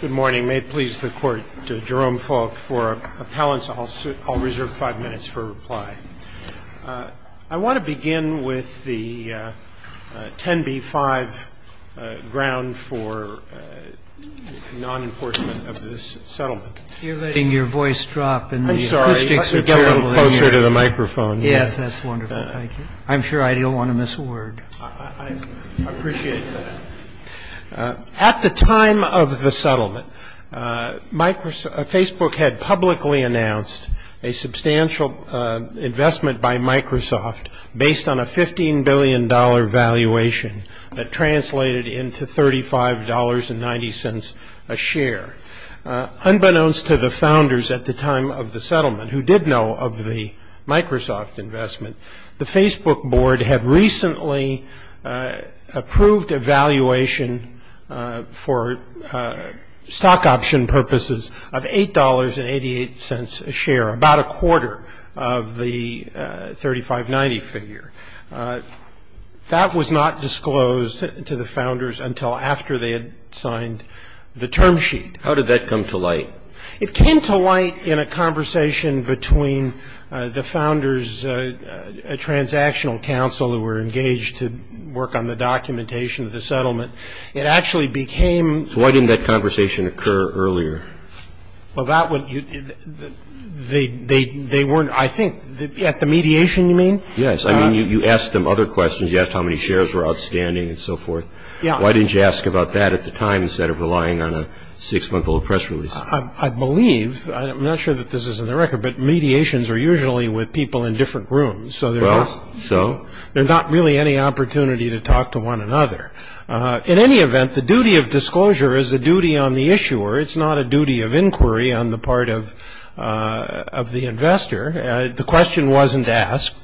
Good morning. May it please the Court, Jerome Falk. For appellants, I'll reserve five minutes for reply. I want to begin with the 10b-5, ground for non-enforcement of this settlement. You're letting your voice drop. I'm sorry. You're a little closer to the microphone. Yes, that's wonderful. Thank you. I'm sure I don't want to miss a word. I appreciate that. At the time of the settlement, Facebook had publicly announced a substantial investment by Microsoft based on a $15 billion valuation that translated into $35.90 a share. Unbeknownst to the founders at the time of the settlement, who did know of the Microsoft investment, the Facebook board had recently approved a valuation for stock option purposes of $8.88 a share, about a quarter of the $35.90 figure. That was not disclosed to the founders until after they had signed the term sheet. How did that come to light? It came to light in a conversation between the founders' transactional counsel who were engaged to work on the documentation of the settlement. It actually became So why didn't that conversation occur earlier? Well, that would they weren't, I think, at the mediation, you mean? Yes. I mean, you asked them other questions. You asked how many shares were outstanding and so forth. Yeah. Why didn't you ask about that at the time instead of relying on a six-month-old press release? I believe, I'm not sure that this is in the record, but mediations are usually with people in different rooms. Well, so? There's not really any opportunity to talk to one another. In any event, the duty of disclosure is a duty on the issuer. It's not a duty of inquiry on the part of the investor. The question wasn't asked,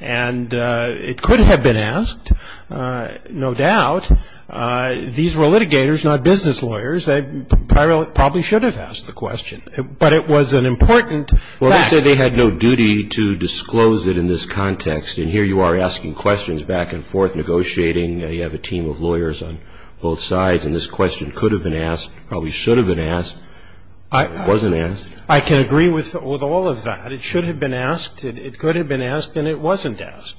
and it could have been asked, no doubt. These were litigators, not business lawyers. They probably should have asked the question, but it was an important fact. Well, they said they had no duty to disclose it in this context, and here you are asking questions back and forth, negotiating. You have a team of lawyers on both sides, and this question could have been asked, probably should have been asked, wasn't asked. I can agree with all of that. It should have been asked, it could have been asked, and it wasn't asked.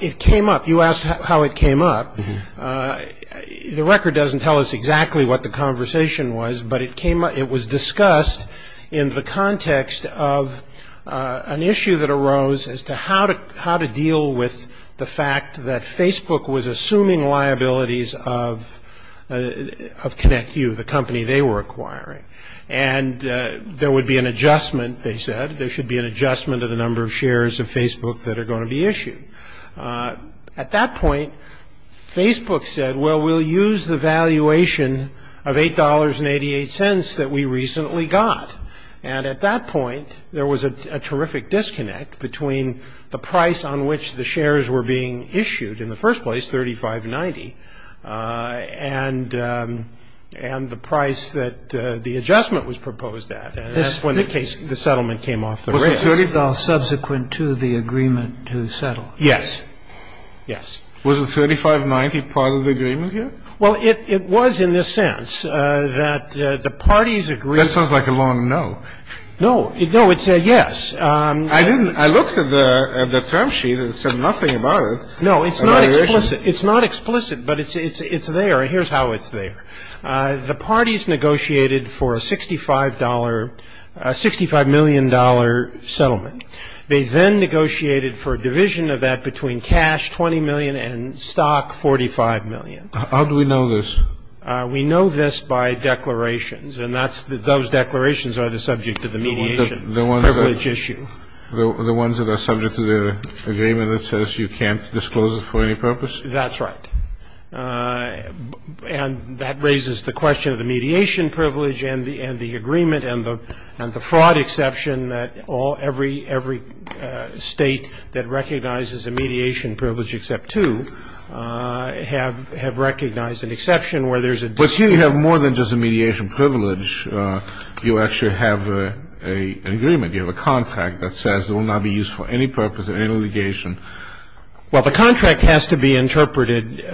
It came up. You asked how it came up. The record doesn't tell us exactly what the conversation was, but it was discussed in the context of an issue that arose as to how to deal with the fact that Facebook was assuming liabilities of ConnectU, the company they were acquiring, and there would be an adjustment, they said. There should be an adjustment of the number of shares of Facebook that are going to be issued. At that point, Facebook said, well, we'll use the valuation of $8.88 that we recently got, and at that point there was a terrific disconnect between the price on which the shares were being issued in the first place, $35.90, and the price that the adjustment was proposed at, and that's when the case, the settlement came off the rails. Scalia. Was the $35.90 subsequent to the agreement to settle? Kneedler. Yes. Yes. Kennedy. Was the $35.90 part of the agreement here? Kneedler. Well, it was in the sense that the parties agreed. Kennedy. That sounds like a long no. Kneedler. No. No, it's a yes. Kennedy. I didn't. I looked at the term sheet and it said nothing about it. Kneedler. No, it's not explicit. It's not explicit, but it's there. Here's how it's there. The parties negotiated for a $65 million settlement. They then negotiated for a division of that between cash, $20 million, and stock, $45 million. Kennedy. How do we know this? Kneedler. We know this by declarations, and those declarations are the subject of the mediation privilege issue. Kennedy. The ones that are subject to the agreement that says you can't disclose it for any purpose? Kneedler. That's right. And that raises the question of the mediation privilege and the agreement and the fraud exception that every state that recognizes a mediation privilege except two have recognized an exception where there's a disclosure. Kennedy. But here you have more than just a mediation privilege. You actually have an agreement. You have a contract that says it will not be used for any purpose in any litigation. Kneedler. Well, the contract has to be interpreted. You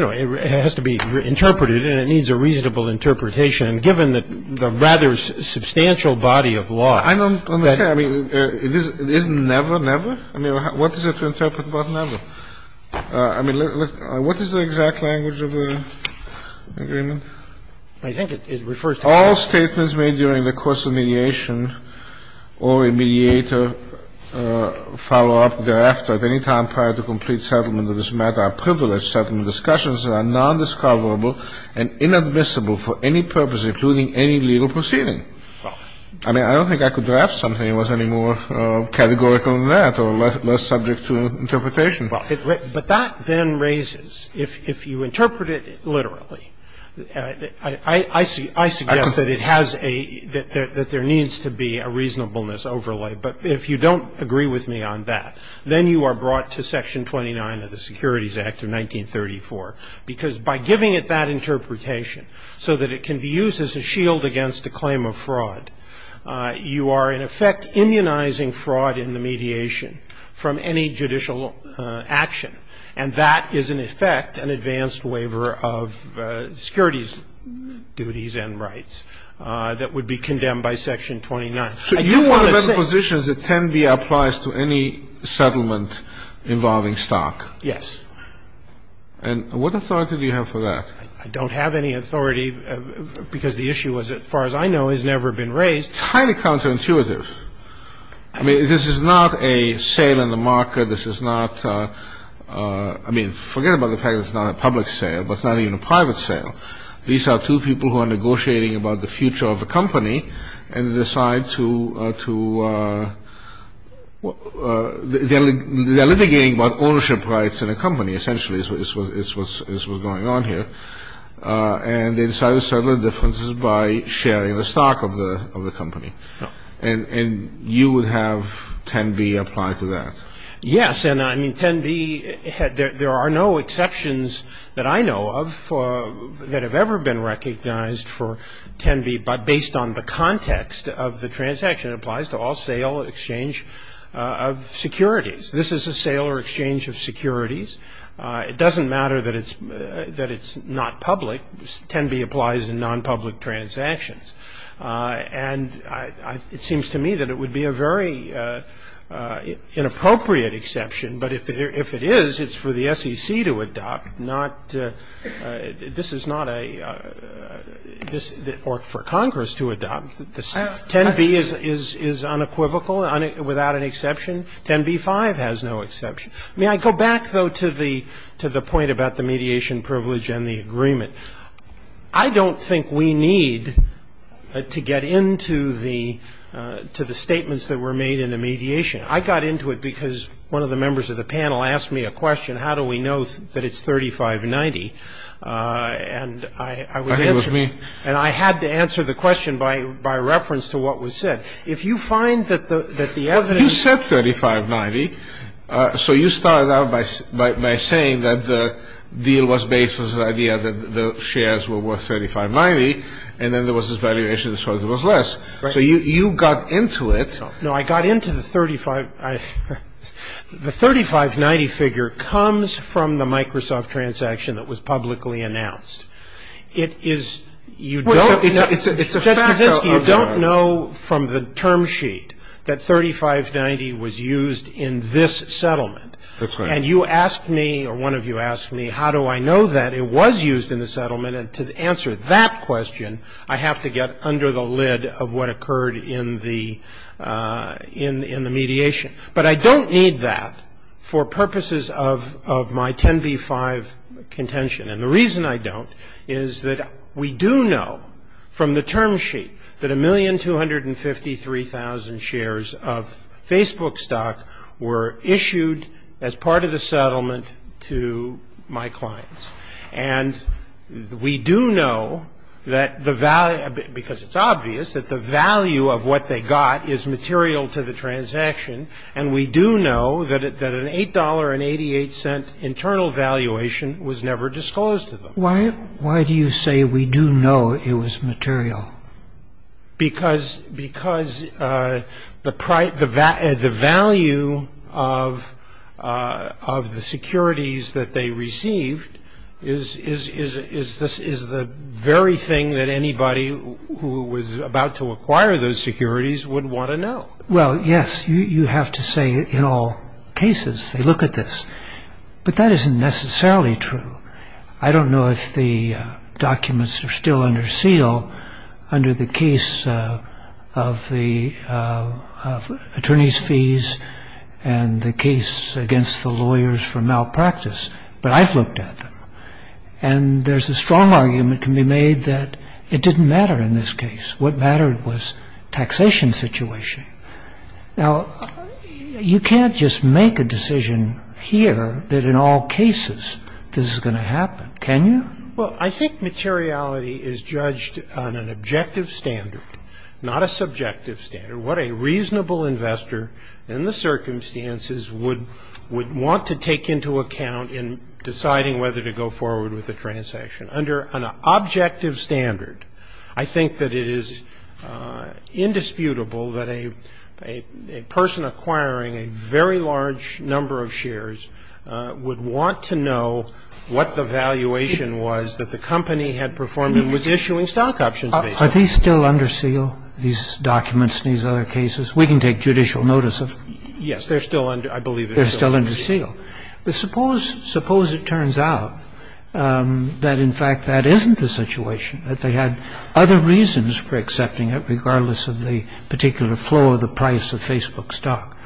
know, it has to be interpreted, and it needs a reasonable interpretation, given the rather substantial body of law. Kennedy. I don't understand. I mean, it isn't never, never? I mean, what is there to interpret about never? I mean, what is the exact language of the agreement? Kneedler. I think it refers to that. All statements made during the course of mediation or a mediator follow up thereafter at any time prior to complete settlement of this matter are privileged settlement discussions that are nondiscoverable and inadmissible for any purpose, including any legal proceeding. I mean, I don't think I could draft something that was any more categorical than that or less subject to interpretation. Roberts. Well, but that then raises, if you interpret it literally, I suggest that it has a, that there needs to be a reasonableness overlay. But if you don't agree with me on that, then you are brought to Section 29 of the Securities Act of 1934, because by giving it that interpretation so that it can be used as a shield against a claim of fraud, you are in effect immunizing fraud in the case of a fraudulent action. And that is in effect an advanced waiver of securities duties and rights that would be condemned by Section 29. I just want to say that. So you want to put positions that 10b applies to any settlement involving stock? Yes. And what authority do you have for that? I don't have any authority, because the issue was, as far as I know, has never been raised. It's highly counterintuitive. I mean, this is not a sale in the market. This is not, I mean, forget about the fact that it's not a public sale, but it's not even a private sale. These are two people who are negotiating about the future of a company, and decide to, they're litigating about ownership rights in a company, essentially, is what's going on here. And they decide to settle the differences by sharing the stock of the company. And you would have 10b apply to that? Yes. And, I mean, 10b, there are no exceptions that I know of that have ever been recognized for 10b based on the context of the transaction. It applies to all sale exchange of securities. This is a sale or exchange of securities. It doesn't matter that it's not public. 10b applies in nonpublic transactions. And it seems to me that it would be a very inappropriate exception. But if it is, it's for the SEC to adopt, not, this is not a, or for Congress to adopt. 10b is unequivocal, without an exception. 10b-5 has no exception. May I go back, though, to the point about the mediation privilege and the agreement? I don't think we need to get into the statements that were made in the mediation. I got into it because one of the members of the panel asked me a question, how do we know that it's 3590? And I had to answer the question by reference to what was said. If you find that the evidence. You said 3590. So you started out by saying that the deal was based on the idea that the shares were worth 3590. And then there was this valuation, so it was less. So you got into it. No, I got into the 35, the 3590 figure comes from the Microsoft transaction that was publicly announced. It is, you don't. You don't know from the term sheet that 3590 was used in this settlement. And you asked me, or one of you asked me, how do I know that it was used in the settlement? And to answer that question, I have to get under the lid of what occurred in the mediation. But I don't need that for purposes of my 10b-5 contention. And the reason I don't is that we do know from the term sheet that 1,253,000 shares of Facebook stock were issued as part of the settlement to my clients. And we do know that the value, because it's obvious, that the value of what they got is material to the transaction. And we do know that an $8.88 internal valuation was never disclosed to them. Why do you say we do know it was material? Because the value of the securities that they received is the very thing that anybody who was about to acquire those securities would want to know. Well, yes, you have to say, in all cases, they look at this. But that isn't necessarily true. I don't know if the documents are still under seal under the case of attorney's fees and the case against the lawyers for malpractice. But I've looked at them. And there's a strong argument can be made that it didn't matter in this case. What mattered was taxation situation. Now, you can't just make a decision here that in all cases this is going to happen, can you? Well, I think materiality is judged on an objective standard, not a subjective standard. What a reasonable investor in the circumstances would want to take into account in deciding whether to go forward with a transaction. Under an objective standard, I think that it is indisputable that a person acquiring a very large number of shares would want to know what the valuation was that the company had performed and was issuing stock options based on. Are these still under seal, these documents and these other cases? We can take judicial notice of them. Yes, they're still under, I believe, they're still under seal. But suppose, suppose it turns out that, in fact, that isn't the situation, that they had other reasons for accepting it regardless of the particular flow of the price of Facebook stock.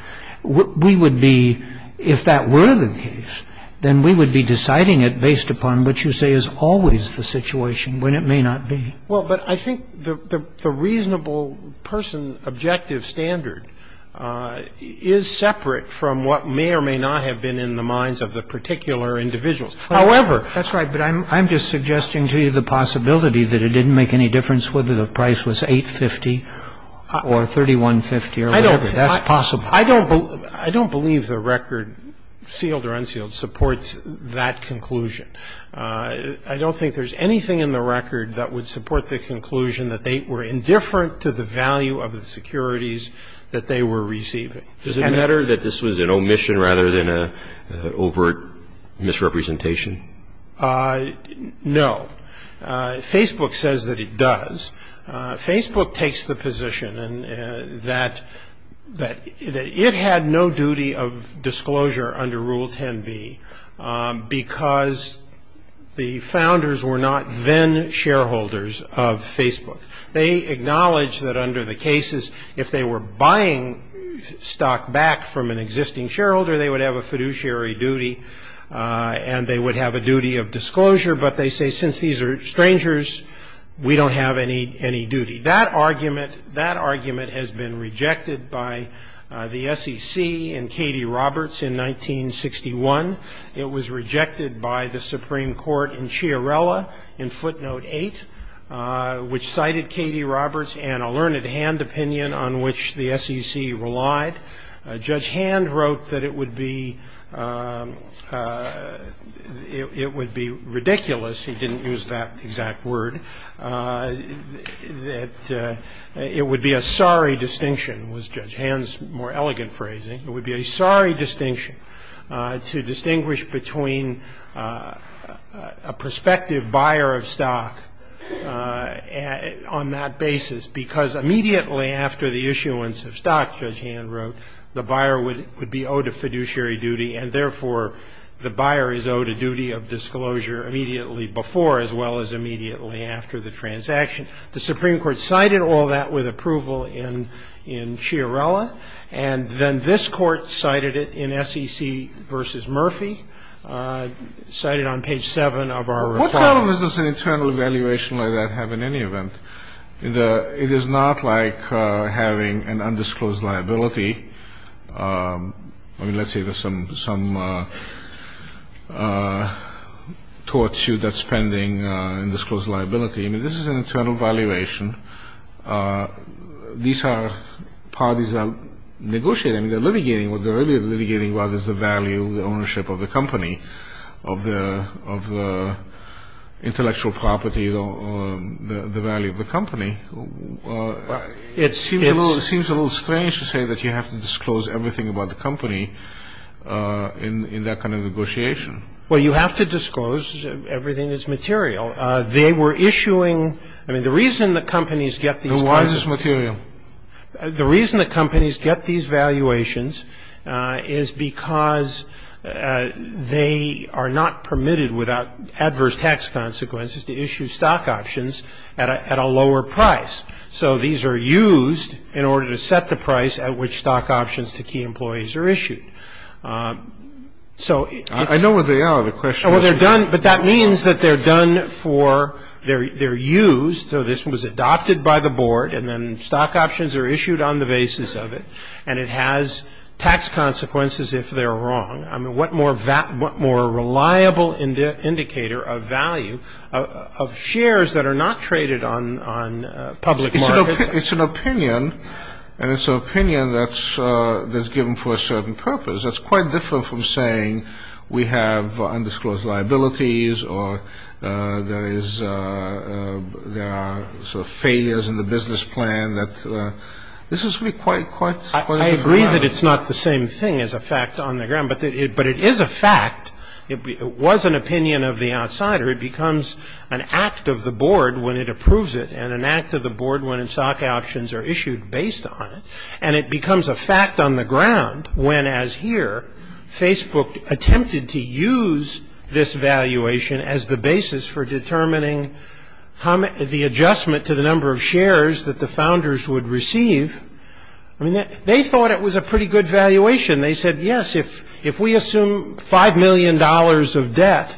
We would be, if that were the case, then we would be deciding it based upon what you say is always the situation when it may not be. Well, but I think the reasonable person objective standard is separate from what may or may not have been in the minds of the particular individuals. However, that's right. But I'm just suggesting to you the possibility that it didn't make any difference whether the price was $8.50 or $31.50 or whatever. That's possible. I don't believe the record, sealed or unsealed, supports that conclusion. I don't think there's anything in the record that would support the conclusion that they were indifferent to the value of the securities that they were receiving. Does it matter that this was an omission rather than an overt misrepresentation? No. Facebook says that it does. Facebook takes the position that it had no duty of disclosure under Rule 10b because the founders were not then shareholders of Facebook. They acknowledge that under the cases if they were buying stock back from an existing shareholder, they would have a fiduciary duty and they would have a duty of disclosure. But they say since these are strangers, we don't have any duty. That argument has been rejected by the SEC and Katie Roberts in 1961. It was rejected by the Supreme Court in Chiarella in footnote 8, which cited Katie Roberts and a learned hand opinion on which the SEC relied. Judge Hand wrote that it would be ridiculous. He didn't use that exact word. That it would be a sorry distinction, was Judge Hand's more elegant phrasing. It would be a sorry distinction to distinguish between a prospective buyer of stock on that basis because immediately after the issuance of stock, Judge Hand wrote, the buyer would be owed a fiduciary duty and therefore the buyer is owed a duty of disclosure immediately before as well as immediately after the transaction. The Supreme Court cited all that with approval in Chiarella. And then this Court cited it in SEC v. Murphy, cited on page 7 of our report. What kind of business and internal evaluation does that have in any event? It is not like having an undisclosed liability. I mean, let's say there's some tort suit that's pending, an undisclosed liability. I mean, this is an internal valuation. These are parties that are negotiating. They're litigating. What they're really litigating about is the value, the ownership of the company, of the intellectual property, the value of the company. It seems a little strange to say that you have to disclose everything about the company in that kind of negotiation. Well, you have to disclose everything that's material. They were issuing the reason that companies get these kinds of Why is this material? The reason that companies get these valuations is because they are not permitted without adverse tax consequences to issue stock options at a lower price. So these are used in order to set the price at which stock options to key employees are issued. So it's I know what they are. The question is They're done, but that means that they're done for, they're used. So this was adopted by the board, and then stock options are issued on the basis of it, and it has tax consequences if they're wrong. I mean, what more reliable indicator of value of shares that are not traded on public markets? It's an opinion, and it's an opinion that's given for a certain purpose. That's quite different from saying we have undisclosed liabilities or there are sort of failures in the business plan. This is really quite a different matter. I agree that it's not the same thing as a fact on the ground, but it is a fact. It was an opinion of the outsider. It becomes an act of the board when it approves it and an act of the board when its stock options are issued based on it, and it becomes a fact on the ground when, as here, Facebook attempted to use this valuation as the basis for determining the adjustment to the number of shares that the founders would receive. I mean, they thought it was a pretty good valuation. They said, yes, if we assume $5 million of debt,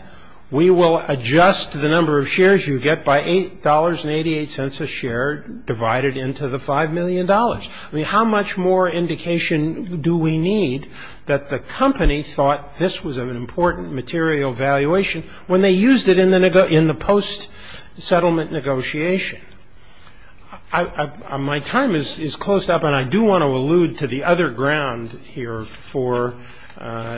we will adjust the number of shares you get by $8.88 a share divided into the $5 million. I mean, how much more indication do we need that the company thought this was an important material valuation when they used it in the post-settlement negotiation? My time is closed up, and I do want to allude to the other ground here for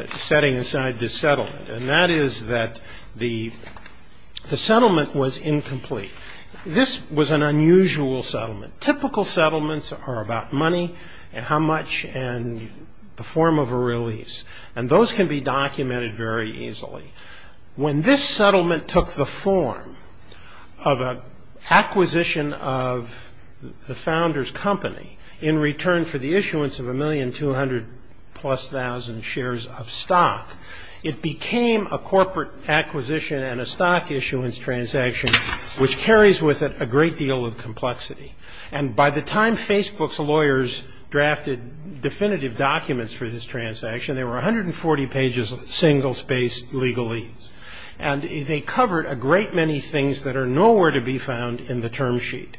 setting aside this settlement, and that is that the settlement was incomplete. This was an unusual settlement. Typical settlements are about money and how much and the form of a release, and those can be documented very easily. When this settlement took the form of an acquisition of the founders' company in return for the issuance of 1,200,000 plus shares of stock, it became a corporate acquisition and a stock issuance transaction, which carries with it a great deal of complexity. And by the time Facebook's lawyers drafted definitive documents for this transaction, there were 140 pages of single-spaced legalese, and they covered a great many things that are nowhere to be found in the term sheet.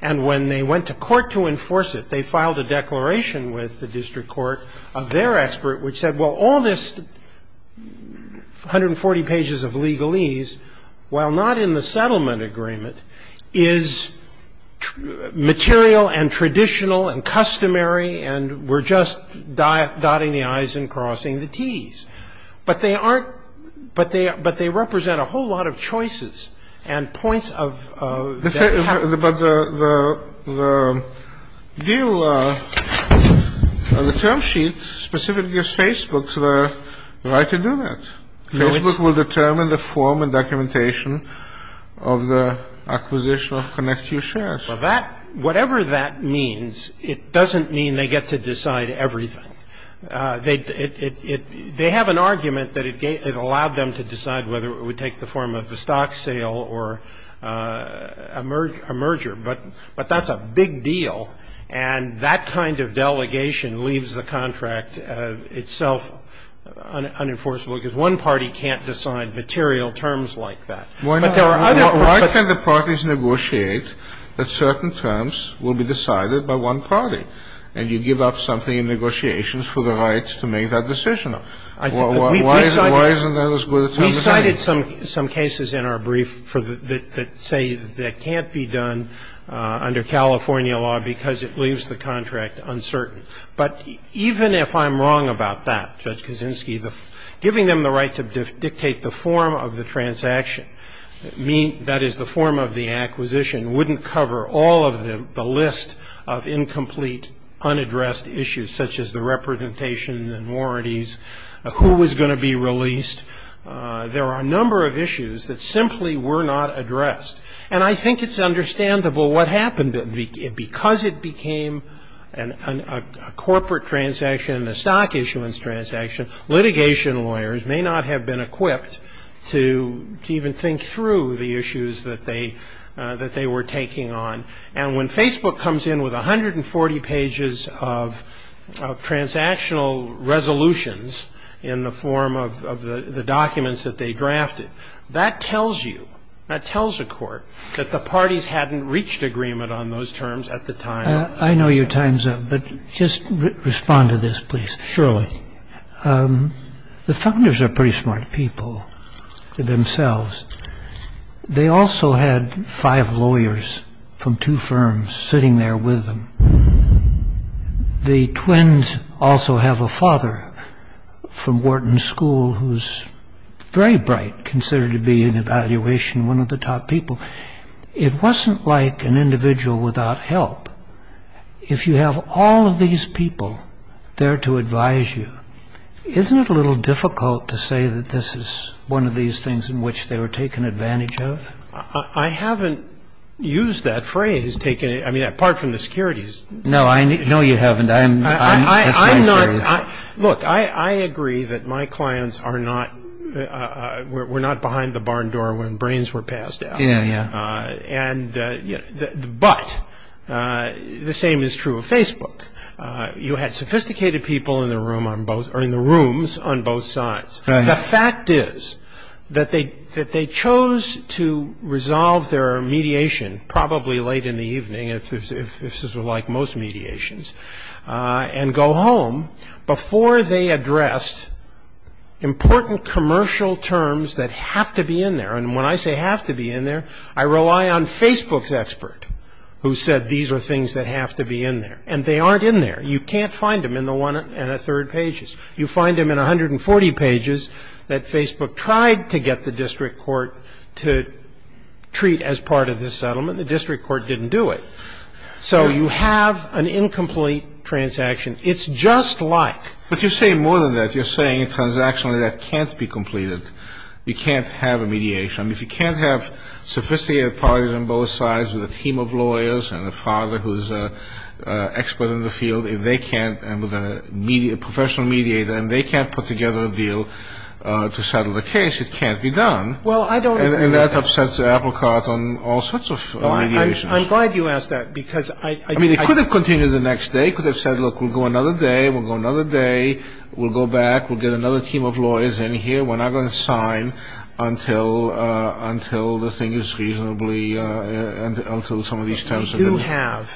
And when they went to court to enforce it, they filed a declaration with the district court of their expert, which said, Well, all this 140 pages of legalese, while not in the settlement agreement, is material and traditional and customary, and we're just dotting the i's and crossing the t's. But they aren't – but they represent a whole lot of choices and points of – But the view of the term sheet specifically gives Facebook the right to do that. Facebook will determine the form and documentation of the acquisition of ConnectU shares. Well, that – whatever that means, it doesn't mean they get to decide everything. They have an argument that it allowed them to decide whether it would take the form of a stock sale or a merger. But that's a big deal, and that kind of delegation leaves the contract itself unenforceable because one party can't decide material terms like that. But there are other – Why can't the parties negotiate that certain terms will be decided by one party, and you give up something in negotiations for the right to make that decision? Why isn't that as good a term as any? We cited some cases in our brief that say that can't be done under California law because it leaves the contract uncertain. But even if I'm wrong about that, Judge Kaczynski, giving them the right to dictate the form of the transaction, that is, the form of the acquisition, wouldn't cover all of the list of incomplete, unaddressed issues such as the representation and warranties, who was going to be released. There are a number of issues that simply were not addressed. And I think it's understandable what happened. Because it became a corporate transaction, a stock issuance transaction, litigation lawyers may not have been equipped to even think through the issues that they were taking on. And when Facebook comes in with 140 pages of transactional resolutions in the form of the documents that they drafted, that tells you, that tells a court, that the parties hadn't reached agreement on those terms at the time. I know your time's up, but just respond to this, please. Surely. The funders are pretty smart people themselves. They also had five lawyers from two firms sitting there with them. The twins also have a father from Wharton School who's very bright, considered to be in evaluation one of the top people. It wasn't like an individual without help. If you have all of these people there to advise you, isn't it a little difficult to say that this is one of these things in which they were taken advantage of? I haven't used that phrase, apart from the securities issue. No, you haven't. Look, I agree that my clients were not behind the barn door when brains were passed out. Yeah, yeah. But the same is true of Facebook. You had sophisticated people in the rooms on both sides. The fact is that they chose to resolve their mediation probably late in the evening, if this is like most mediations, and go home before they addressed important commercial terms that have to be in there. And when I say have to be in there, I rely on Facebook's expert, who said these are things that have to be in there. And they aren't in there. You can't find them in the one and a third pages. You find them in 140 pages that Facebook tried to get the district court to treat as part of this settlement. The district court didn't do it. So you have an incomplete transaction. It's just like. But you're saying more than that. You're saying a transaction like that can't be completed. You can't have a mediation. I mean, if you can't have sophisticated parties on both sides with a team of lawyers and a father who's an expert in the field, if they can't, and with a professional mediator, and they can't put together a deal to settle the case, it can't be done. Well, I don't agree with that. And that upsets the applicant on all sorts of mediations. I'm glad you asked that, because I. I mean, it could have continued the next day. It could have said, look, we'll go another day. We'll go another day. We'll go back. We'll get another team of lawyers in here. We're not going to sign until the thing is reasonably, until some of these terms are done. But we do have,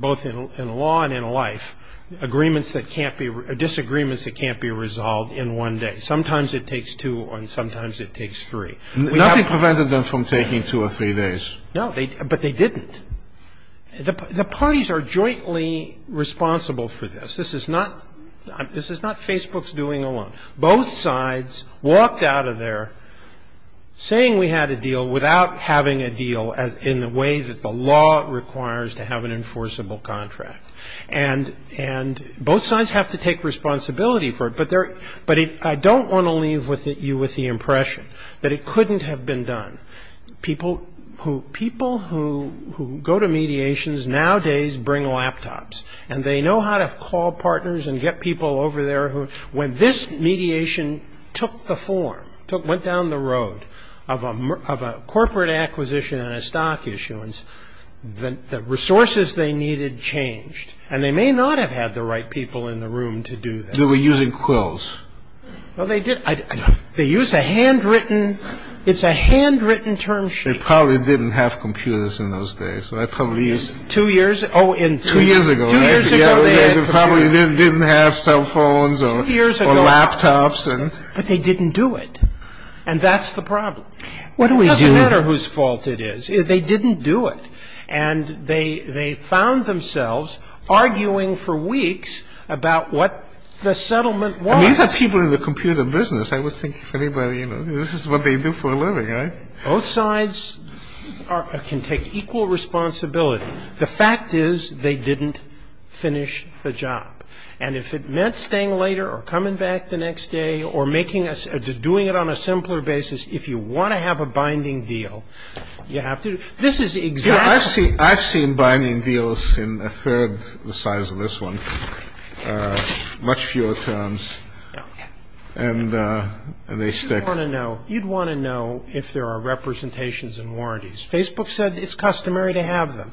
both in law and in life, agreements that can't be, disagreements that can't be resolved in one day. Sometimes it takes two, and sometimes it takes three. Nothing prevented them from taking two or three days. No, but they didn't. The parties are jointly responsible for this. This is not Facebook's doing alone. Both sides walked out of there saying we had a deal without having a deal in the way that the law requires to have an enforceable contract. And both sides have to take responsibility for it. But I don't want to leave you with the impression that it couldn't have been done. People who go to mediations nowadays bring laptops. And they know how to call partners and get people over there who, when this mediation took the form, went down the road of a corporate acquisition and a stock issuance, the resources they needed changed. And they may not have had the right people in the room to do that. They were using quills. Well, they did. They used a handwritten, it's a handwritten term sheet. They probably didn't have computers in those days. Two years? Two years ago. Two years ago. They probably didn't have cell phones or laptops. Two years ago. But they didn't do it. And that's the problem. What do we do? It doesn't matter whose fault it is. They didn't do it. And they found themselves arguing for weeks about what the settlement was. These are people in the computer business. I would think if anybody, you know, this is what they do for a living, right? Both sides can take equal responsibility. The fact is they didn't finish the job. And if it meant staying later or coming back the next day or doing it on a simpler basis, if you want to have a binding deal, you have to. I've seen binding deals in a third the size of this one, much fewer terms. And they stick. You'd want to know if there are representations and warranties. Facebook said it's customary to have them.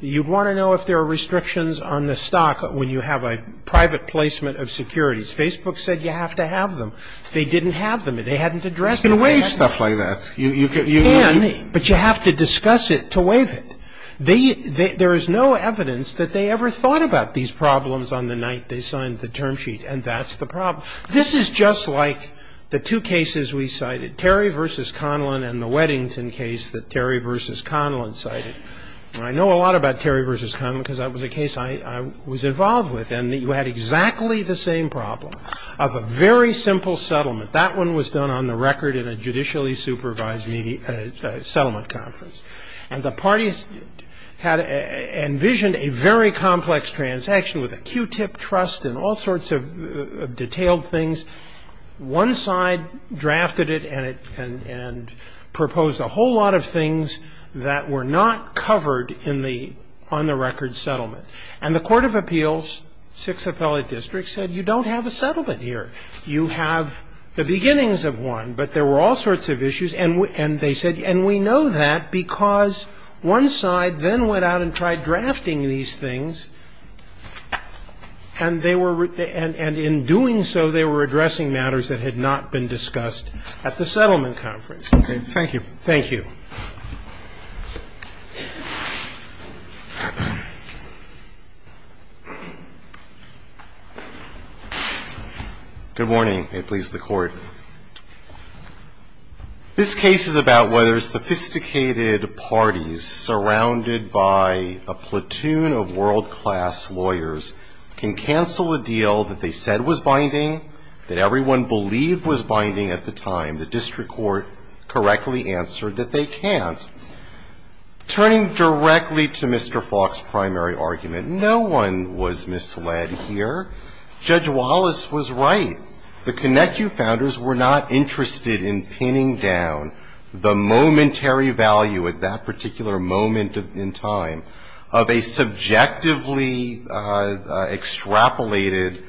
You'd want to know if there are restrictions on the stock when you have a private placement of securities. Facebook said you have to have them. They didn't have them. They hadn't addressed it. You can waive stuff like that. You can, but you have to discuss it to waive it. There is no evidence that they ever thought about these problems on the night they signed the term sheet. And that's the problem. This is just like the two cases we cited, Terry v. Conlon and the Weddington case that Terry v. Conlon cited. I know a lot about Terry v. Conlon because that was a case I was involved with. And you had exactly the same problem of a very simple settlement. That one was done on the record in a judicially supervised settlement conference. And the parties had envisioned a very complex transaction with a Q-tip trust and all sorts of detailed things. One side drafted it and proposed a whole lot of things that were not covered on the record settlement. And the Court of Appeals, Sixth Appellate District, said you don't have a settlement here. You have the beginnings of one, but there were all sorts of issues. And they said, and we know that because one side then went out and tried drafting these things. And they were – and in doing so, they were addressing matters that had not been discussed at the settlement conference. Okay. Thank you. Thank you. Good morning. May it please the Court. This case is about whether sophisticated parties surrounded by a platoon of world-class lawyers can cancel a deal that they said was binding, that everyone believed was binding at the time. The district court correctly answered that they can't. Turning directly to Mr. Falk's primary argument, no one was misled here. Judge Wallace was right. The Connecu Founders were not interested in pinning down the momentary value at that particular moment in time of a subjectively extrapolated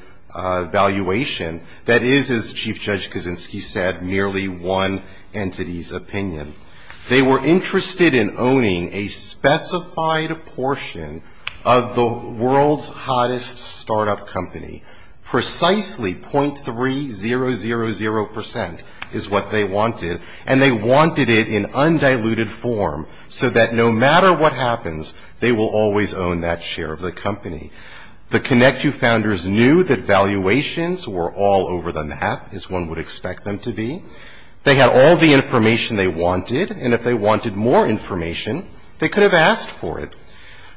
valuation that is, as Chief Judge Kaczynski said, merely one entity's opinion. They were interested in owning a specified portion of the world's hottest startup company. Precisely .3000 percent is what they wanted. And they wanted it in undiluted form so that no matter what happens, they will always own that share of the company. The Connecu Founders knew that valuations were all over the map, as one would expect them to be. They had all the information they wanted. And if they wanted more information, they could have asked for it.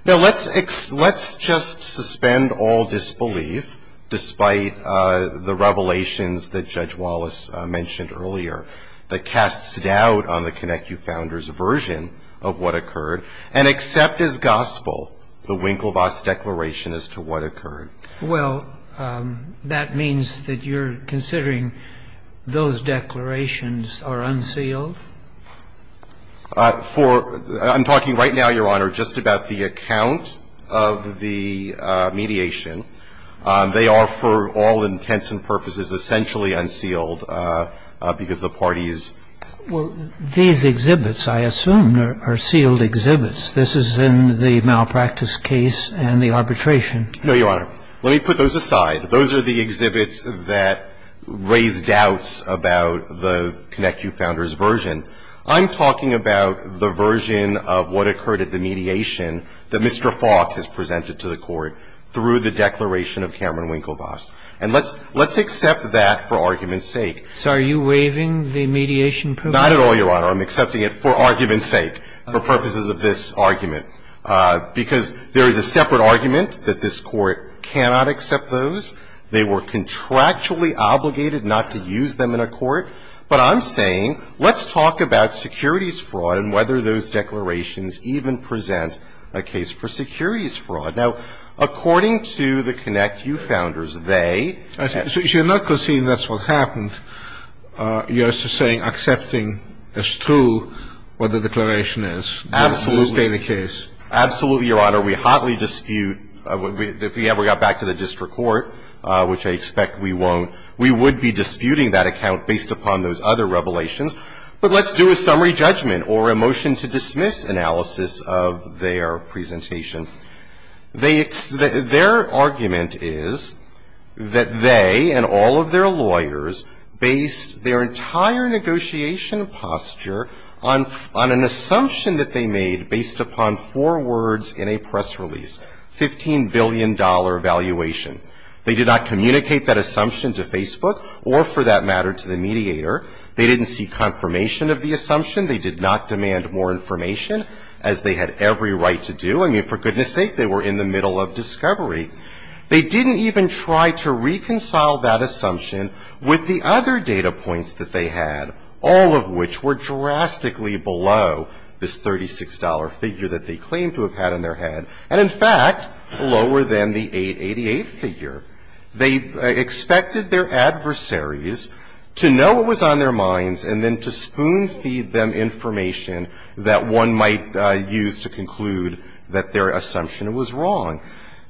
Now, let's just suspend all disbelief, despite the revelations that Judge Wallace mentioned earlier, that casts doubt on the Connecu Founders' version of what occurred, and accept as gospel the Winklevoss Declaration as to what occurred. Well, that means that you're considering those declarations are unsealed? For — I'm talking right now, Your Honor, just about the account of the mediation. They are, for all intents and purposes, essentially unsealed because the parties These exhibits, I assume, are sealed exhibits. This is in the malpractice case and the arbitration. No, Your Honor. Let me put those aside. Those are the exhibits that raise doubts about the Connecu Founders' version. I'm talking about the version of what occurred at the mediation that Mr. Falk has presented to the Court through the Declaration of Cameron Winklevoss. And let's accept that for argument's sake. So are you waiving the mediation provision? Not at all, Your Honor. I'm accepting it for argument's sake, for purposes of this argument, because there is a separate argument that this Court cannot accept those. They were contractually obligated not to use them in a court. But I'm saying let's talk about securities fraud and whether those declarations even present a case for securities fraud. Now, according to the Connecu Founders, they — So you're not conceding that's what happened. You're just saying accepting as true what the declaration is. Absolutely. In this daily case. Absolutely, Your Honor. We hotly dispute, if we ever got back to the district court, which I expect we won't, we would be disputing that account based upon those other revelations. But let's do a summary judgment or a motion to dismiss analysis of their presentation. Their argument is that they and all of their lawyers based their entire negotiation posture on an assumption that they made based upon four words in a press release, $15 billion evaluation. They did not communicate that assumption to Facebook or, for that matter, to the mediator. They didn't see confirmation of the assumption. They did not demand more information, as they had every right to do. I mean, for goodness sake, they were in the middle of discovery. They didn't even try to reconcile that assumption with the other data points that they had, all of which were drastically below this $36 figure that they claimed to have had in their head, and, in fact, lower than the $888 figure. They expected their adversaries to know what was on their minds and then to spoon-feed them information that one might use to conclude that their assumption was wrong.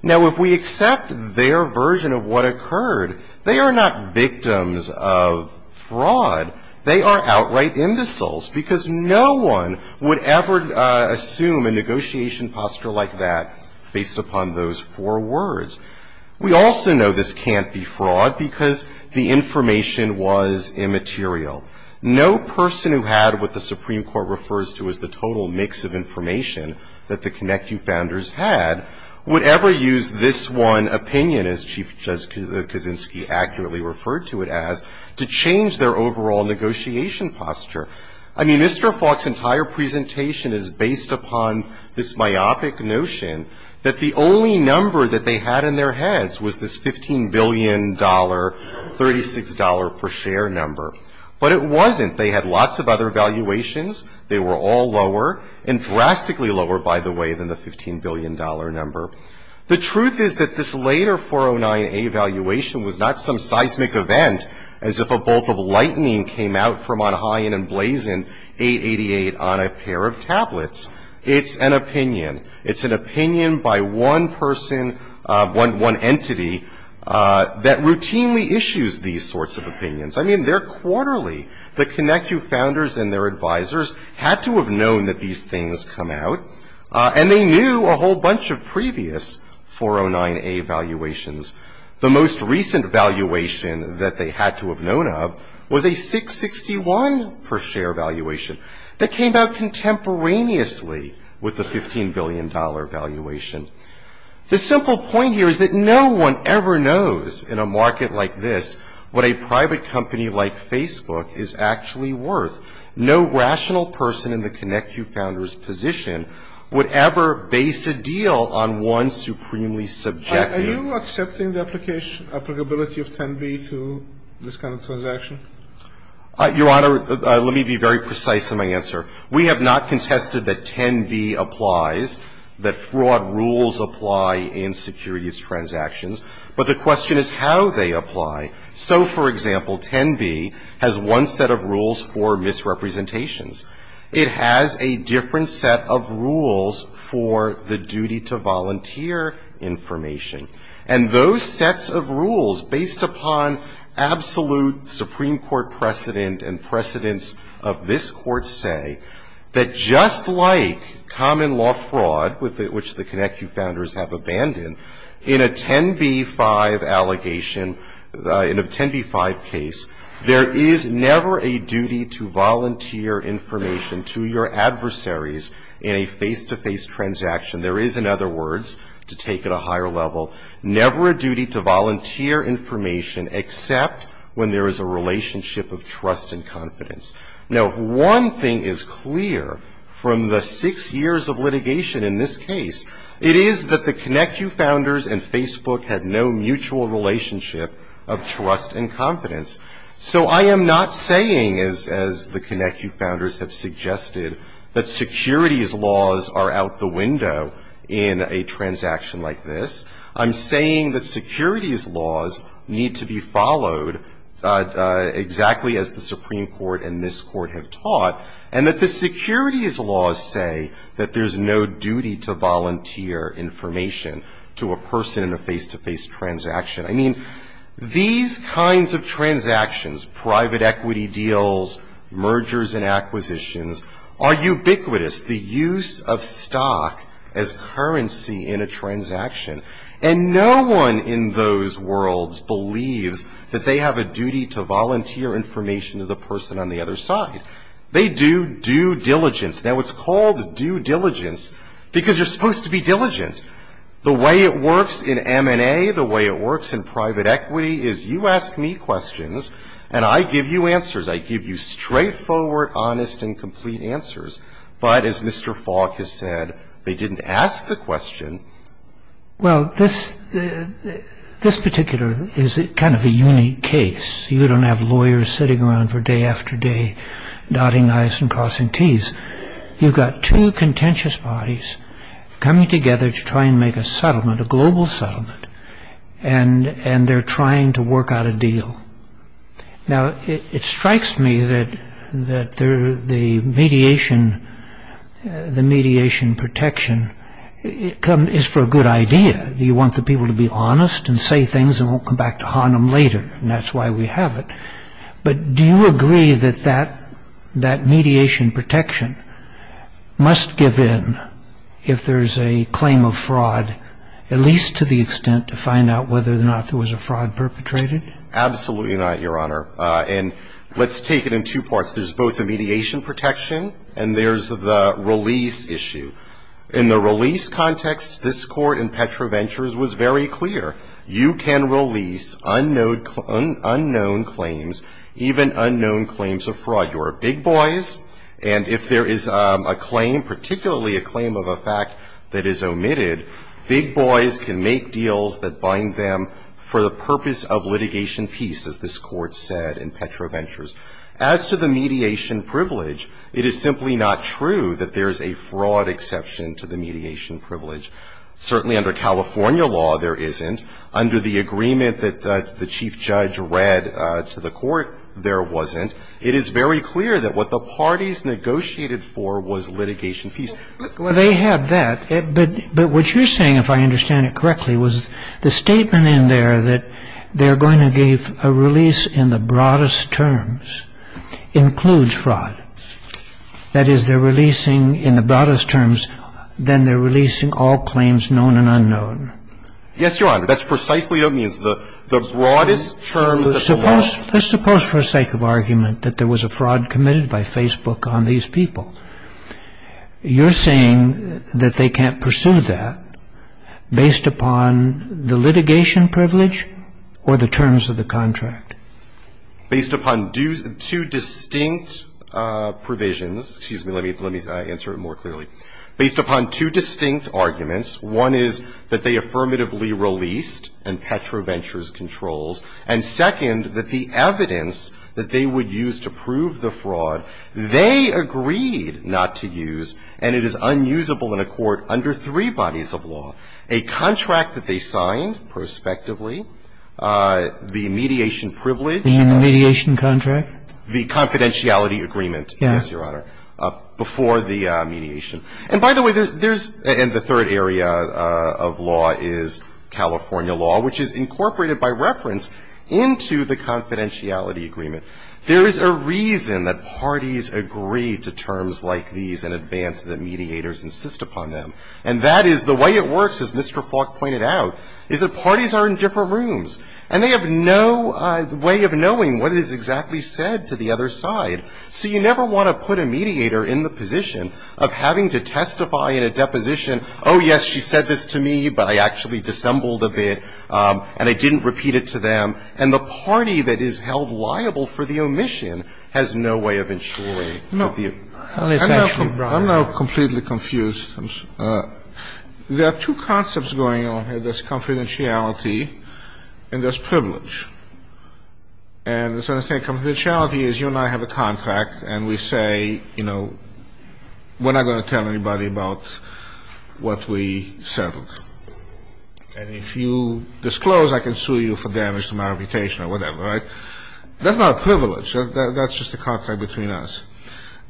Now, if we accept their version of what occurred, they are not victims of fraud. They are outright imbeciles, because no one would ever assume a negotiation posture like that based upon those four words. We also know this can't be fraud because the information was immaterial. No person who had what the Supreme Court refers to as the total mix of information that the ConnectU founders had would ever use this one opinion, as Chief Judge I mean, Mr. Falk's entire presentation is based upon this myopic notion that the only number that they had in their heads was this $15 billion, $36 per share number. But it wasn't. They had lots of other valuations. They were all lower, and drastically lower, by the way, than the $15 billion number. The truth is that this later 409A valuation was not some seismic event, as if a bolt of lightning came out from on high and emblazoned 888 on a pair of tablets. It's an opinion. It's an opinion by one person, one entity, that routinely issues these sorts of opinions. I mean, they're quarterly. The ConnectU founders and their advisors had to have known that these things come out, and they knew a whole bunch of previous 409A valuations. The most recent valuation that they had to have known of was a 661 per share valuation that came out contemporaneously with the $15 billion valuation. The simple point here is that no one ever knows in a market like this what a private company like Facebook is actually worth. No rational person in the ConnectU founders' position would ever base a deal on one supremely subjective. Are you accepting the applicability of 10B to this kind of transaction? Your Honor, let me be very precise in my answer. We have not contested that 10B applies, that fraud rules apply in securities transactions. But the question is how they apply. So, for example, 10B has one set of rules for misrepresentations. It has a different set of rules for the duty to volunteer information. And those sets of rules, based upon absolute Supreme Court precedent and precedence of this Court's say, that just like common law fraud, which the ConnectU founders have abandoned, in a 10B-5 allegation, in a 10B-5 case, there is never a duty to volunteer information to your adversaries in a face-to-face transaction. There is, in other words, to take it a higher level, never a duty to volunteer information except when there is a relationship of trust and confidence. Now, if one thing is clear from the six years of litigation in this case, it is that the ConnectU founders and Facebook had no mutual relationship of trust and confidence. So I am not saying, as the ConnectU founders have suggested, that securities laws are out the window in a transaction like this. I'm saying that securities laws need to be followed exactly as the Supreme Court and this Court have taught, and that the securities laws say that there's no duty to volunteer information to a person in a face-to-face transaction. I mean, these kinds of transactions, private equity deals, mergers and acquisitions, are ubiquitous. The use of stock as currency in a transaction. And no one in those worlds believes that they have a duty to volunteer information to the person on the other side. They do due diligence. Now, it's called due diligence because you're supposed to be diligent. The way it works in M&A, the way it works in private equity, is you ask me questions and I give you answers. I give you straightforward, honest and complete answers. But as Mr. Falk has said, they didn't ask the question. Well, this particular is kind of a unique case. You don't have lawyers sitting around for day after day, dotting I's and crossing T's. You've got two contentious bodies coming together to try and make a settlement, a global settlement, and they're trying to work out a deal. Now, it strikes me that the mediation protection is for a good idea. You want the people to be honest and say things and won't come back to haunt them later, and that's why we have it. But do you agree that that mediation protection must give in if there's a claim of fraud, at least to the extent to find out whether or not there was a fraud perpetrated? Absolutely not, Your Honor. And let's take it in two parts. There's both the mediation protection and there's the release issue. In the release context, this Court in Petra Ventures was very clear. You can release unknown claims, even unknown claims of fraud. You're big boys, and if there is a claim, particularly a claim of a fact that is omitted, big boys can make deals that bind them for the purpose of litigation peace, as this Court said in Petra Ventures. As to the mediation privilege, it is simply not true that there's a fraud exception to the mediation privilege. Certainly under California law, there isn't. Under the agreement that the chief judge read to the Court, there wasn't. It is very clear that what the parties negotiated for was litigation peace. Well, they had that, but what you're saying, if I understand it correctly, was the statement in there that they're going to give a release in the broadest terms includes fraud. That is, they're releasing in the broadest terms, then they're releasing all claims known and unknown. Yes, Your Honor. That's precisely what it means. The broadest terms that are known. Let's suppose for the sake of argument that there was a fraud committed by Facebook on these people. You're saying that they can't pursue that based upon the litigation privilege or the terms of the contract? Based upon two distinct provisions. Excuse me. Let me answer it more clearly. Based upon two distinct arguments. One is that they affirmatively released and Petro Ventures controls. And second, that the evidence that they would use to prove the fraud, they agreed not to use, and it is unusable in a court under three bodies of law. A contract that they signed prospectively, the mediation privilege. The mediation contract? The confidentiality agreement. Yes, Your Honor. Before the mediation. And by the way, there's the third area of law is California law, which is incorporated by reference into the confidentiality agreement. There is a reason that parties agree to terms like these in advance that mediators insist upon them. And that is the way it works, as Mr. Falk pointed out, is that parties are in different rooms, and they have no way of knowing what is exactly said to the other side. So you never want to put a mediator in the position of having to testify in a deposition, oh, yes, she said this to me, but I actually dissembled a bit, and I didn't repeat it to them. And the party that is held liable for the omission has no way of ensuring the view. I'm now completely confused. There are two concepts going on here. There's confidentiality, and there's privilege. And confidentiality is you and I have a contract, and we say, you know, we're not going to tell anybody about what we settled. And if you disclose, I can sue you for damage to my reputation or whatever, right? That's not a privilege. That's just a contract between us.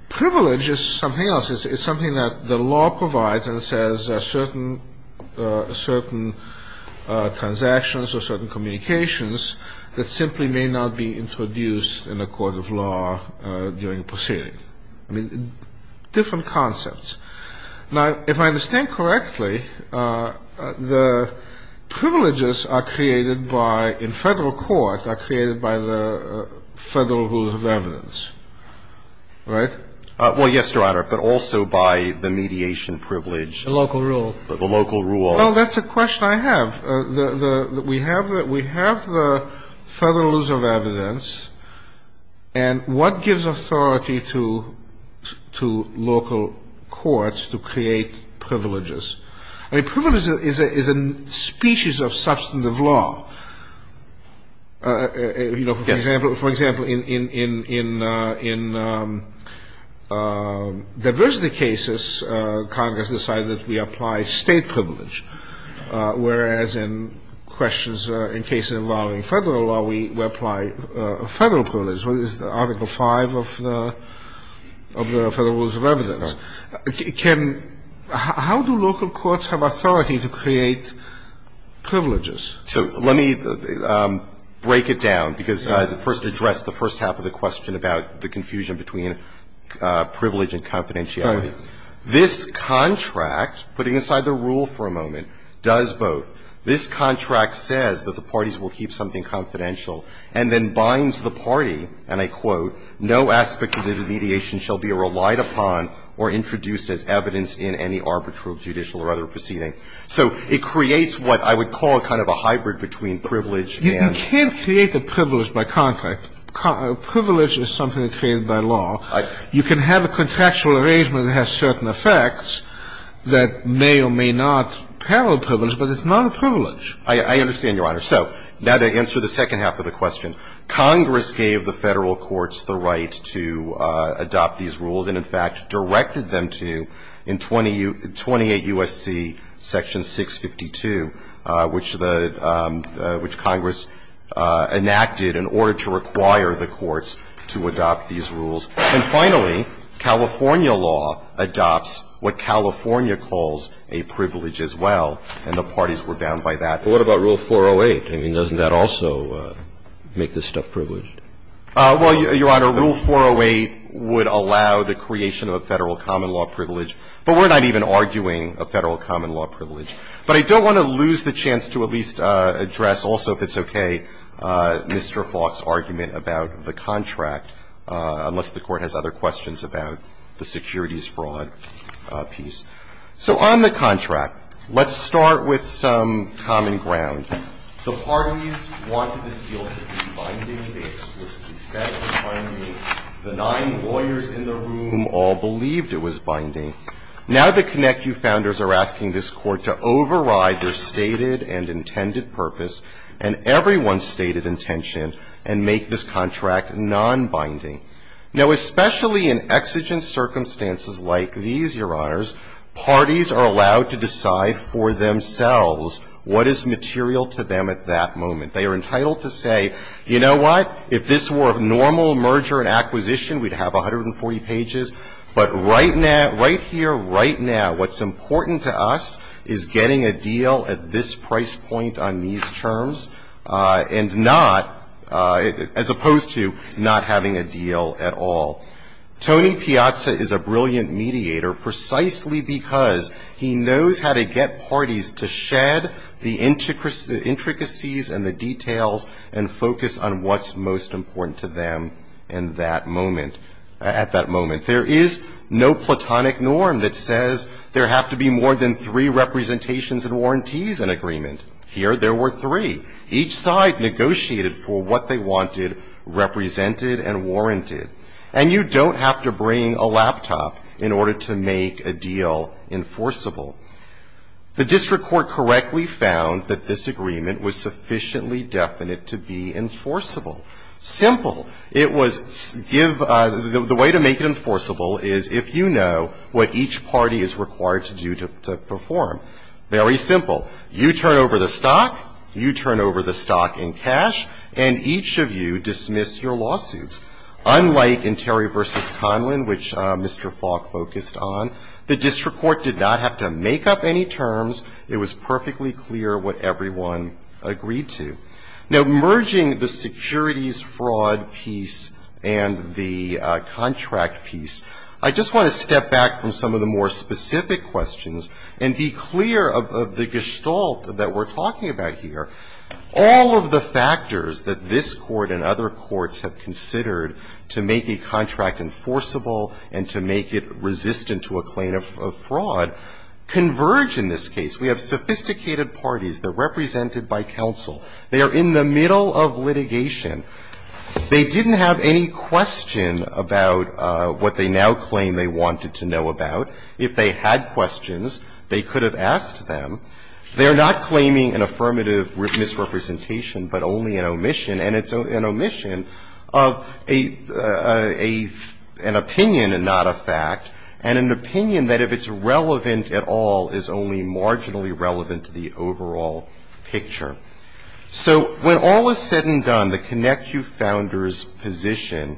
Privilege is something else. It's something that the law provides and says certain transactions or certain communications that simply may not be introduced in a court of law during a proceeding. I mean, different concepts. Now, if I understand correctly, the privileges are created by, in federal court, are created by the federal rules of evidence, right? Well, yes, Your Honor, but also by the mediation privilege. The local rule. The local rule. Well, that's a question I have. We have the federal rules of evidence. And what gives authority to local courts to create privileges? I mean, privilege is a species of substantive law. Yes. For example, in diversity cases, Congress decided that we apply state privilege, whereas in questions, in cases involving federal law, we apply federal privilege, which is Article V of the Federal Rules of Evidence. How do local courts have authority to create privileges? So let me break it down, because I first addressed the first half of the question about the confusion between privilege and confidentiality. This contract, putting aside the rule for a moment, does both. This contract says that the parties will keep something confidential and then binds the party, and I quote, no aspect of the mediation shall be relied upon or introduced as evidence in any arbitrary judicial or other proceeding. So it creates what I would call kind of a hybrid between privilege and — You can't create the privilege by contract. Privilege is something created by law. You can have a contractual arrangement that has certain effects that may or may not parallel privilege, but it's not a privilege. I understand, Your Honor. So now to answer the second half of the question, Congress gave the federal courts the right to adopt these rules and, in fact, directed them to in 28 U.S.C. Section 652, which the — which Congress enacted in order to require the courts to adopt these rules. And finally, California law adopts what California calls a privilege as well, and the parties were bound by that. But what about Rule 408? I mean, doesn't that also make this stuff privileged? Well, Your Honor, Rule 408 would allow the creation of a Federal common law privilege. But we're not even arguing a Federal common law privilege. But I don't want to lose the chance to at least address also, if it's okay, Mr. Falk's argument about the contract, unless the Court has other questions about the securities fraud piece. So on the contract, let's start with some common ground. The parties wanted this deal to be binding. They explicitly said it was binding. The nine lawyers in the room all believed it was binding. Now the ConnectU founders are asking this Court to override their stated and intended purpose and everyone's stated intention and make this contract nonbinding. Now, especially in exigent circumstances like these, Your Honors, parties are allowed to decide for themselves what is material to them at that moment. They are entitled to say, you know what? If this were a normal merger and acquisition, we'd have 140 pages. But right now, right here, right now, what's important to us is getting a deal at this price point on these terms and not, as opposed to not having a deal at all. Tony Piazza is a brilliant mediator precisely because he knows how to get parties to shed the intricacies and the details and focus on what's most important to them in that moment, at that moment. There is no platonic norm that says there have to be more than three representations and warranties in agreement. Here there were three. Each side negotiated for what they wanted represented and warranted. And you don't have to bring a laptop in order to make a deal enforceable. The district court correctly found that this agreement was sufficiently definite to be enforceable. Simple. It was give the way to make it enforceable is if you know what each party is required to do to perform. Very simple. You turn over the stock, you turn over the stock in cash, and each of you dismiss your lawsuits. Unlike in Terry v. Conlin, which Mr. Falk focused on, the district court did not have to make up any terms. It was perfectly clear what everyone agreed to. Now, merging the securities fraud piece and the contract piece, I just want to step back from some of the more specific questions and be clear of the gestalt that we're talking about here. All of the factors that this Court and other courts have considered to make a contract enforceable and to make it resistant to a claim of fraud converge in this case. We have sophisticated parties that are represented by counsel. They are in the middle of litigation. They didn't have any question about what they now claim they wanted to know about. If they had questions, they could have asked them. They're not claiming an affirmative misrepresentation, but only an omission, and it's an omission of an opinion and not a fact, and an opinion that if it's relevant at all is only marginally relevant to the overall picture. So when all is said and done, the ConnecuFounders position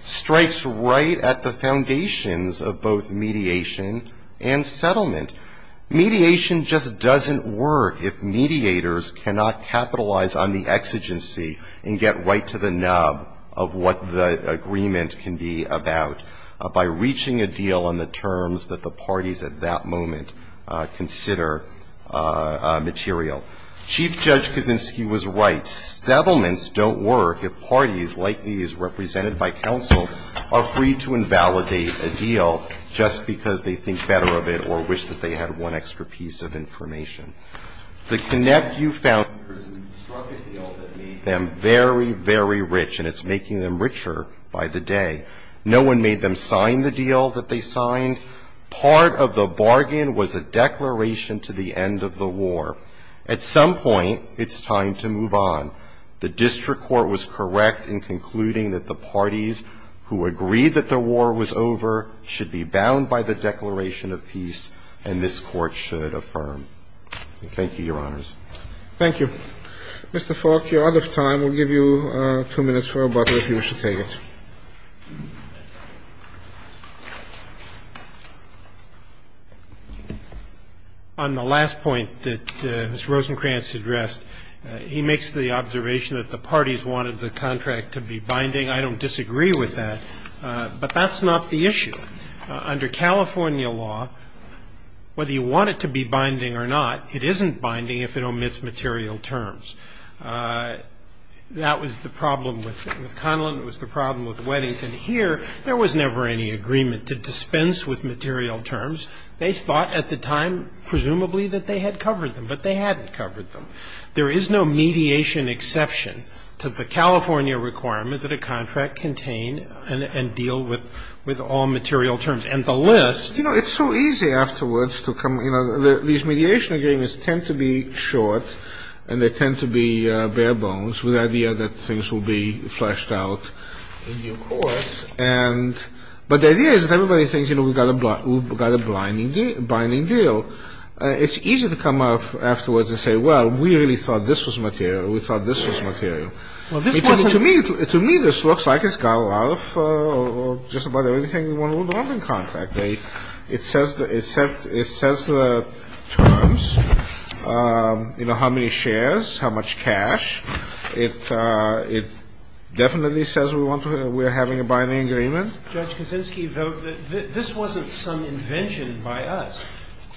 strikes right at the foundations of both mediation and settlement. Mediation just doesn't work if mediators cannot capitalize on the exigency and get right to the nub of what the agreement can be about by reaching a deal on the terms that the parties at that moment consider material. Chief Judge Kaczynski was right. Settlements don't work if parties, like these represented by counsel, are free to invalidate a deal just because they think better of it or wish that they had one extra piece of information. The ConnecuFounders struck a deal that made them very, very rich, and it's making them richer by the day. No one made them sign the deal that they signed. Part of the bargain was a declaration to the end of the war. At some point, it's time to move on. The district court was correct in concluding that the parties who agreed that the war was over should be bound by the Declaration of Peace, and this Court should affirm. Thank you, Your Honors. Roberts. Thank you. Mr. Faulk, your time will give you two minutes for rebuttal if you wish to take it. On the last point that Mr. Rosenkranz addressed, he makes the observation that the parties wanted the contract to be binding. I don't disagree with that, but that's not the issue. Under California law, whether you want it to be binding or not, it isn't binding if it omits material terms. That was the problem with Conlon. It was the problem with Weddington. And here, there was never any agreement to dispense with material terms. They thought at the time, presumably, that they had covered them, but they hadn't covered them. There is no mediation exception to the California requirement that a contract contain and deal with all material terms. And the list ---- You know, it's so easy afterwards to come, you know, these mediation agreements tend to be short and they tend to be bare bones with the idea that things will be But the idea is that everybody thinks, you know, we've got a binding deal. It's easy to come up afterwards and say, well, we really thought this was material. We thought this was material. To me, this looks like it's got a lot of just about everything you want to want in a contract. It says the terms, you know, how many shares, how much cash. It definitely says we want to ---- we're having a binding agreement. Judge Kaczynski, though, this wasn't some invention by us.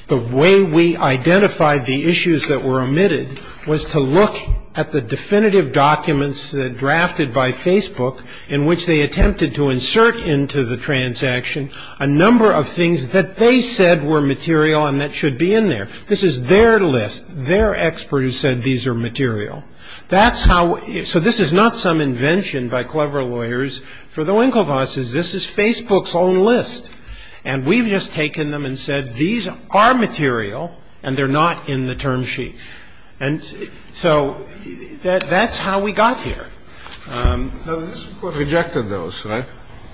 The way we identified the issues that were omitted was to look at the definitive documents that drafted by Facebook in which they attempted to insert into the transaction a number of things that they said were material and that should be in there. This is their list, their expert who said these are material. That's how ---- so this is not some invention by clever lawyers for the Winklevosses. This is Facebook's own list. And we've just taken them and said these are material and they're not in the term sheet. And so that's how we got here. No, the district court rejected those, right?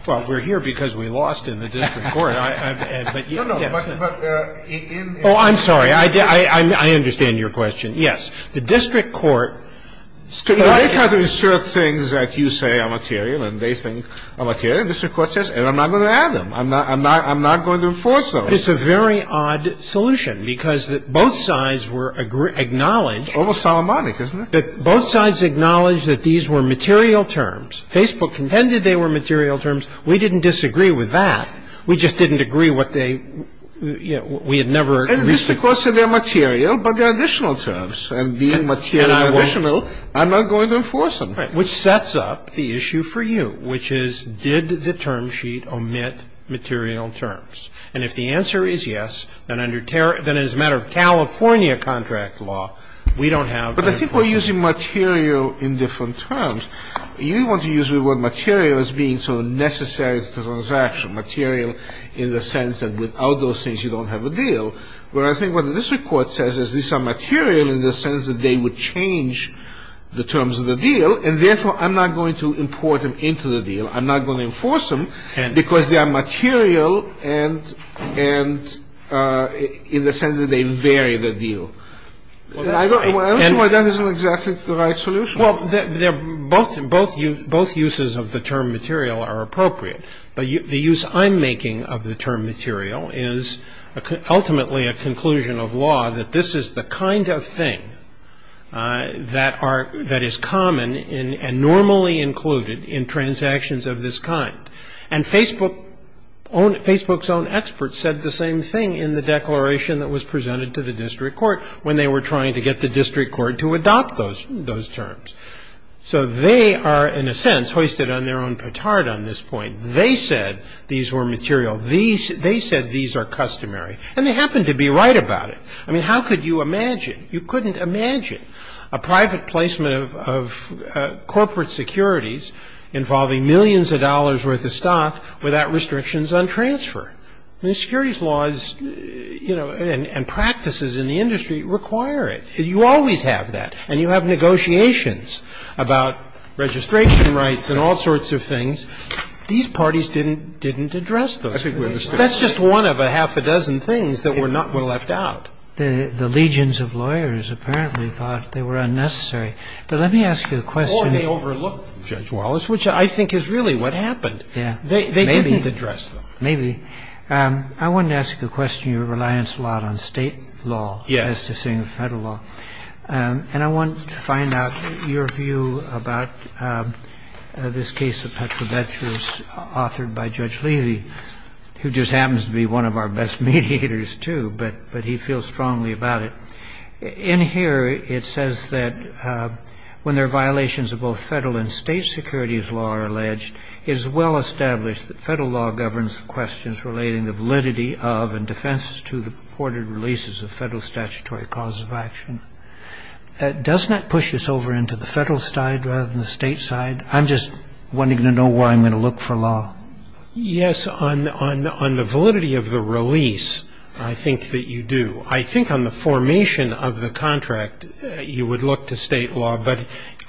Well, we're here because we lost in the district court. No, no, but in ---- Oh, I'm sorry. I understand your question. Yes. The district court ---- They try to insert things that you say are material and they think are material and the district court says, and I'm not going to add them. I'm not going to enforce those. It's a very odd solution because both sides were acknowledged ---- Almost Solomonic, isn't it? Both sides acknowledged that these were material terms. Facebook contended they were material terms. We didn't disagree with that. We just didn't agree what they ---- we had never ---- Well, the district court said they're material, but they're additional terms. And being material and additional, I'm not going to enforce them. Right, which sets up the issue for you, which is did the term sheet omit material terms? And if the answer is yes, then under ---- then as a matter of California contract law, we don't have ---- But I think we're using material in different terms. You want to use the word material as being sort of necessary to the transaction, material in the sense that without those things you don't have a deal. Where I think what the district court says is these are material in the sense that they would change the terms of the deal. And therefore, I'm not going to import them into the deal. I'm not going to enforce them because they are material and in the sense that they vary the deal. I don't see why that isn't exactly the right solution. Well, both uses of the term material are appropriate. But the use I'm making of the term material is ultimately a conclusion of law that this is the kind of thing that are ---- that is common and normally included in transactions of this kind. And Facebook's own experts said the same thing in the declaration that was presented to the district court when they were trying to get the district court to adopt those terms. So they are in a sense hoisted on their own petard on this point. They said these were material. They said these are customary. And they happen to be right about it. I mean, how could you imagine? You couldn't imagine a private placement of corporate securities involving millions of dollars worth of stock without restrictions on transfer. I mean, securities laws, you know, and practices in the industry require it. You always have that. And you have negotiations about registration rights and all sorts of things. These parties didn't address those. That's just one of a half a dozen things that were left out. The legions of lawyers apparently thought they were unnecessary. But let me ask you a question. Or they overlooked Judge Wallace, which I think is really what happened. They didn't address them. Maybe. I wanted to ask a question. You reliance a lot on State law as to saying Federal law. And I want to find out your view about this case of Petrovetsch's authored by Judge Levy, who just happens to be one of our best mediators, too, but he feels strongly about it. In here, it says that when there are violations of both Federal and State securities law are alleged, it is well established that Federal law governs the questions relating the validity of and defenses to the purported releases of Federal statutory cause of action. Doesn't that push us over into the Federal side rather than the State side? I'm just wanting to know where I'm going to look for law. Yes. On the validity of the release, I think that you do. I think on the formation of the contract, you would look to State law. But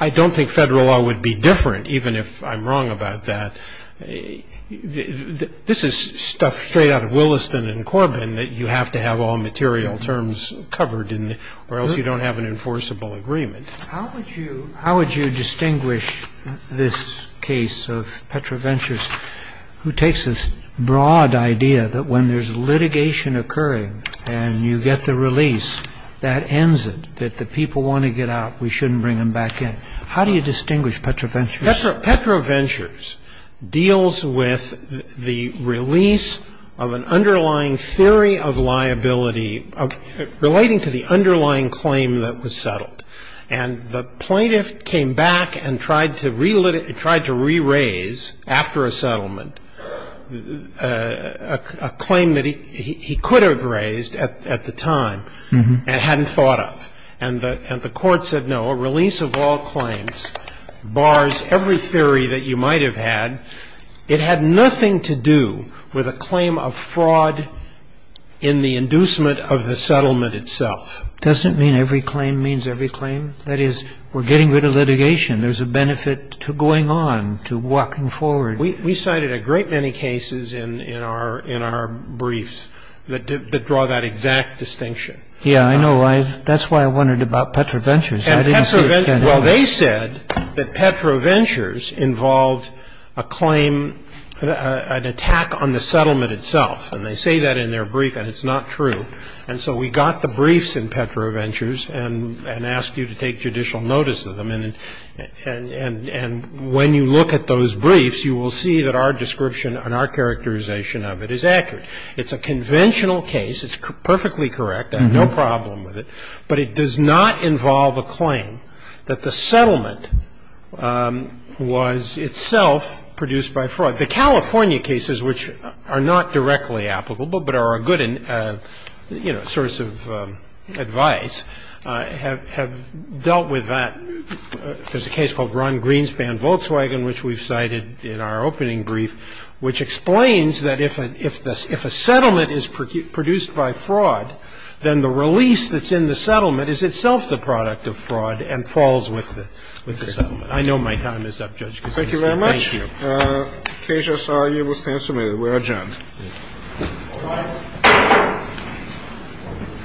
I don't think Federal law would be different, even if I'm wrong about that. This is stuff straight out of Williston and Corbin that you have to have all material terms covered or else you don't have an enforceable agreement. How would you distinguish this case of Petrovetsch's, who takes this broad idea that when there's litigation occurring and you get the release, that ends it, that the people want to get out. We shouldn't bring them back in. How do you distinguish Petrovetsch's? Petrovetsch's deals with the release of an underlying theory of liability relating to the underlying claim that was settled. And the plaintiff came back and tried to re-raise after a settlement a claim that he could have raised at the time and hadn't thought of. And the court said, no, a release of all claims bars every theory that you might have had. It had nothing to do with a claim of fraud in the inducement of the settlement itself. Does it mean every claim means every claim? That is, we're getting rid of litigation. There's a benefit to going on, to walking forward. We cited a great many cases in our briefs that draw that exact distinction. Yeah, I know. That's why I wondered about Petrovetsch's. I didn't see it. Well, they said that Petrovetsch's involved a claim, an attack on the settlement itself. And they say that in their brief, and it's not true. And so we got the briefs in Petrovetsch's and asked you to take judicial notice of them. And when you look at those briefs, you will see that our description and our characterization of it is accurate. It's a conventional case. It's perfectly correct. I have no problem with it. But it does not involve a claim that the settlement was itself produced by fraud. The California cases, which are not directly applicable but are a good, you know, source of advice, have dealt with that. There's a case called Ron Greenspan-Volkswagen, which we've cited in our opening brief, which explains that if a settlement is produced by fraud, then the release that's in the settlement is itself the product of fraud and falls with the settlement. I know my time is up, Judge Kuczynski. Thank you. Thank you very much. The case, as I saw, you will stand submitted. We are adjourned. All rise.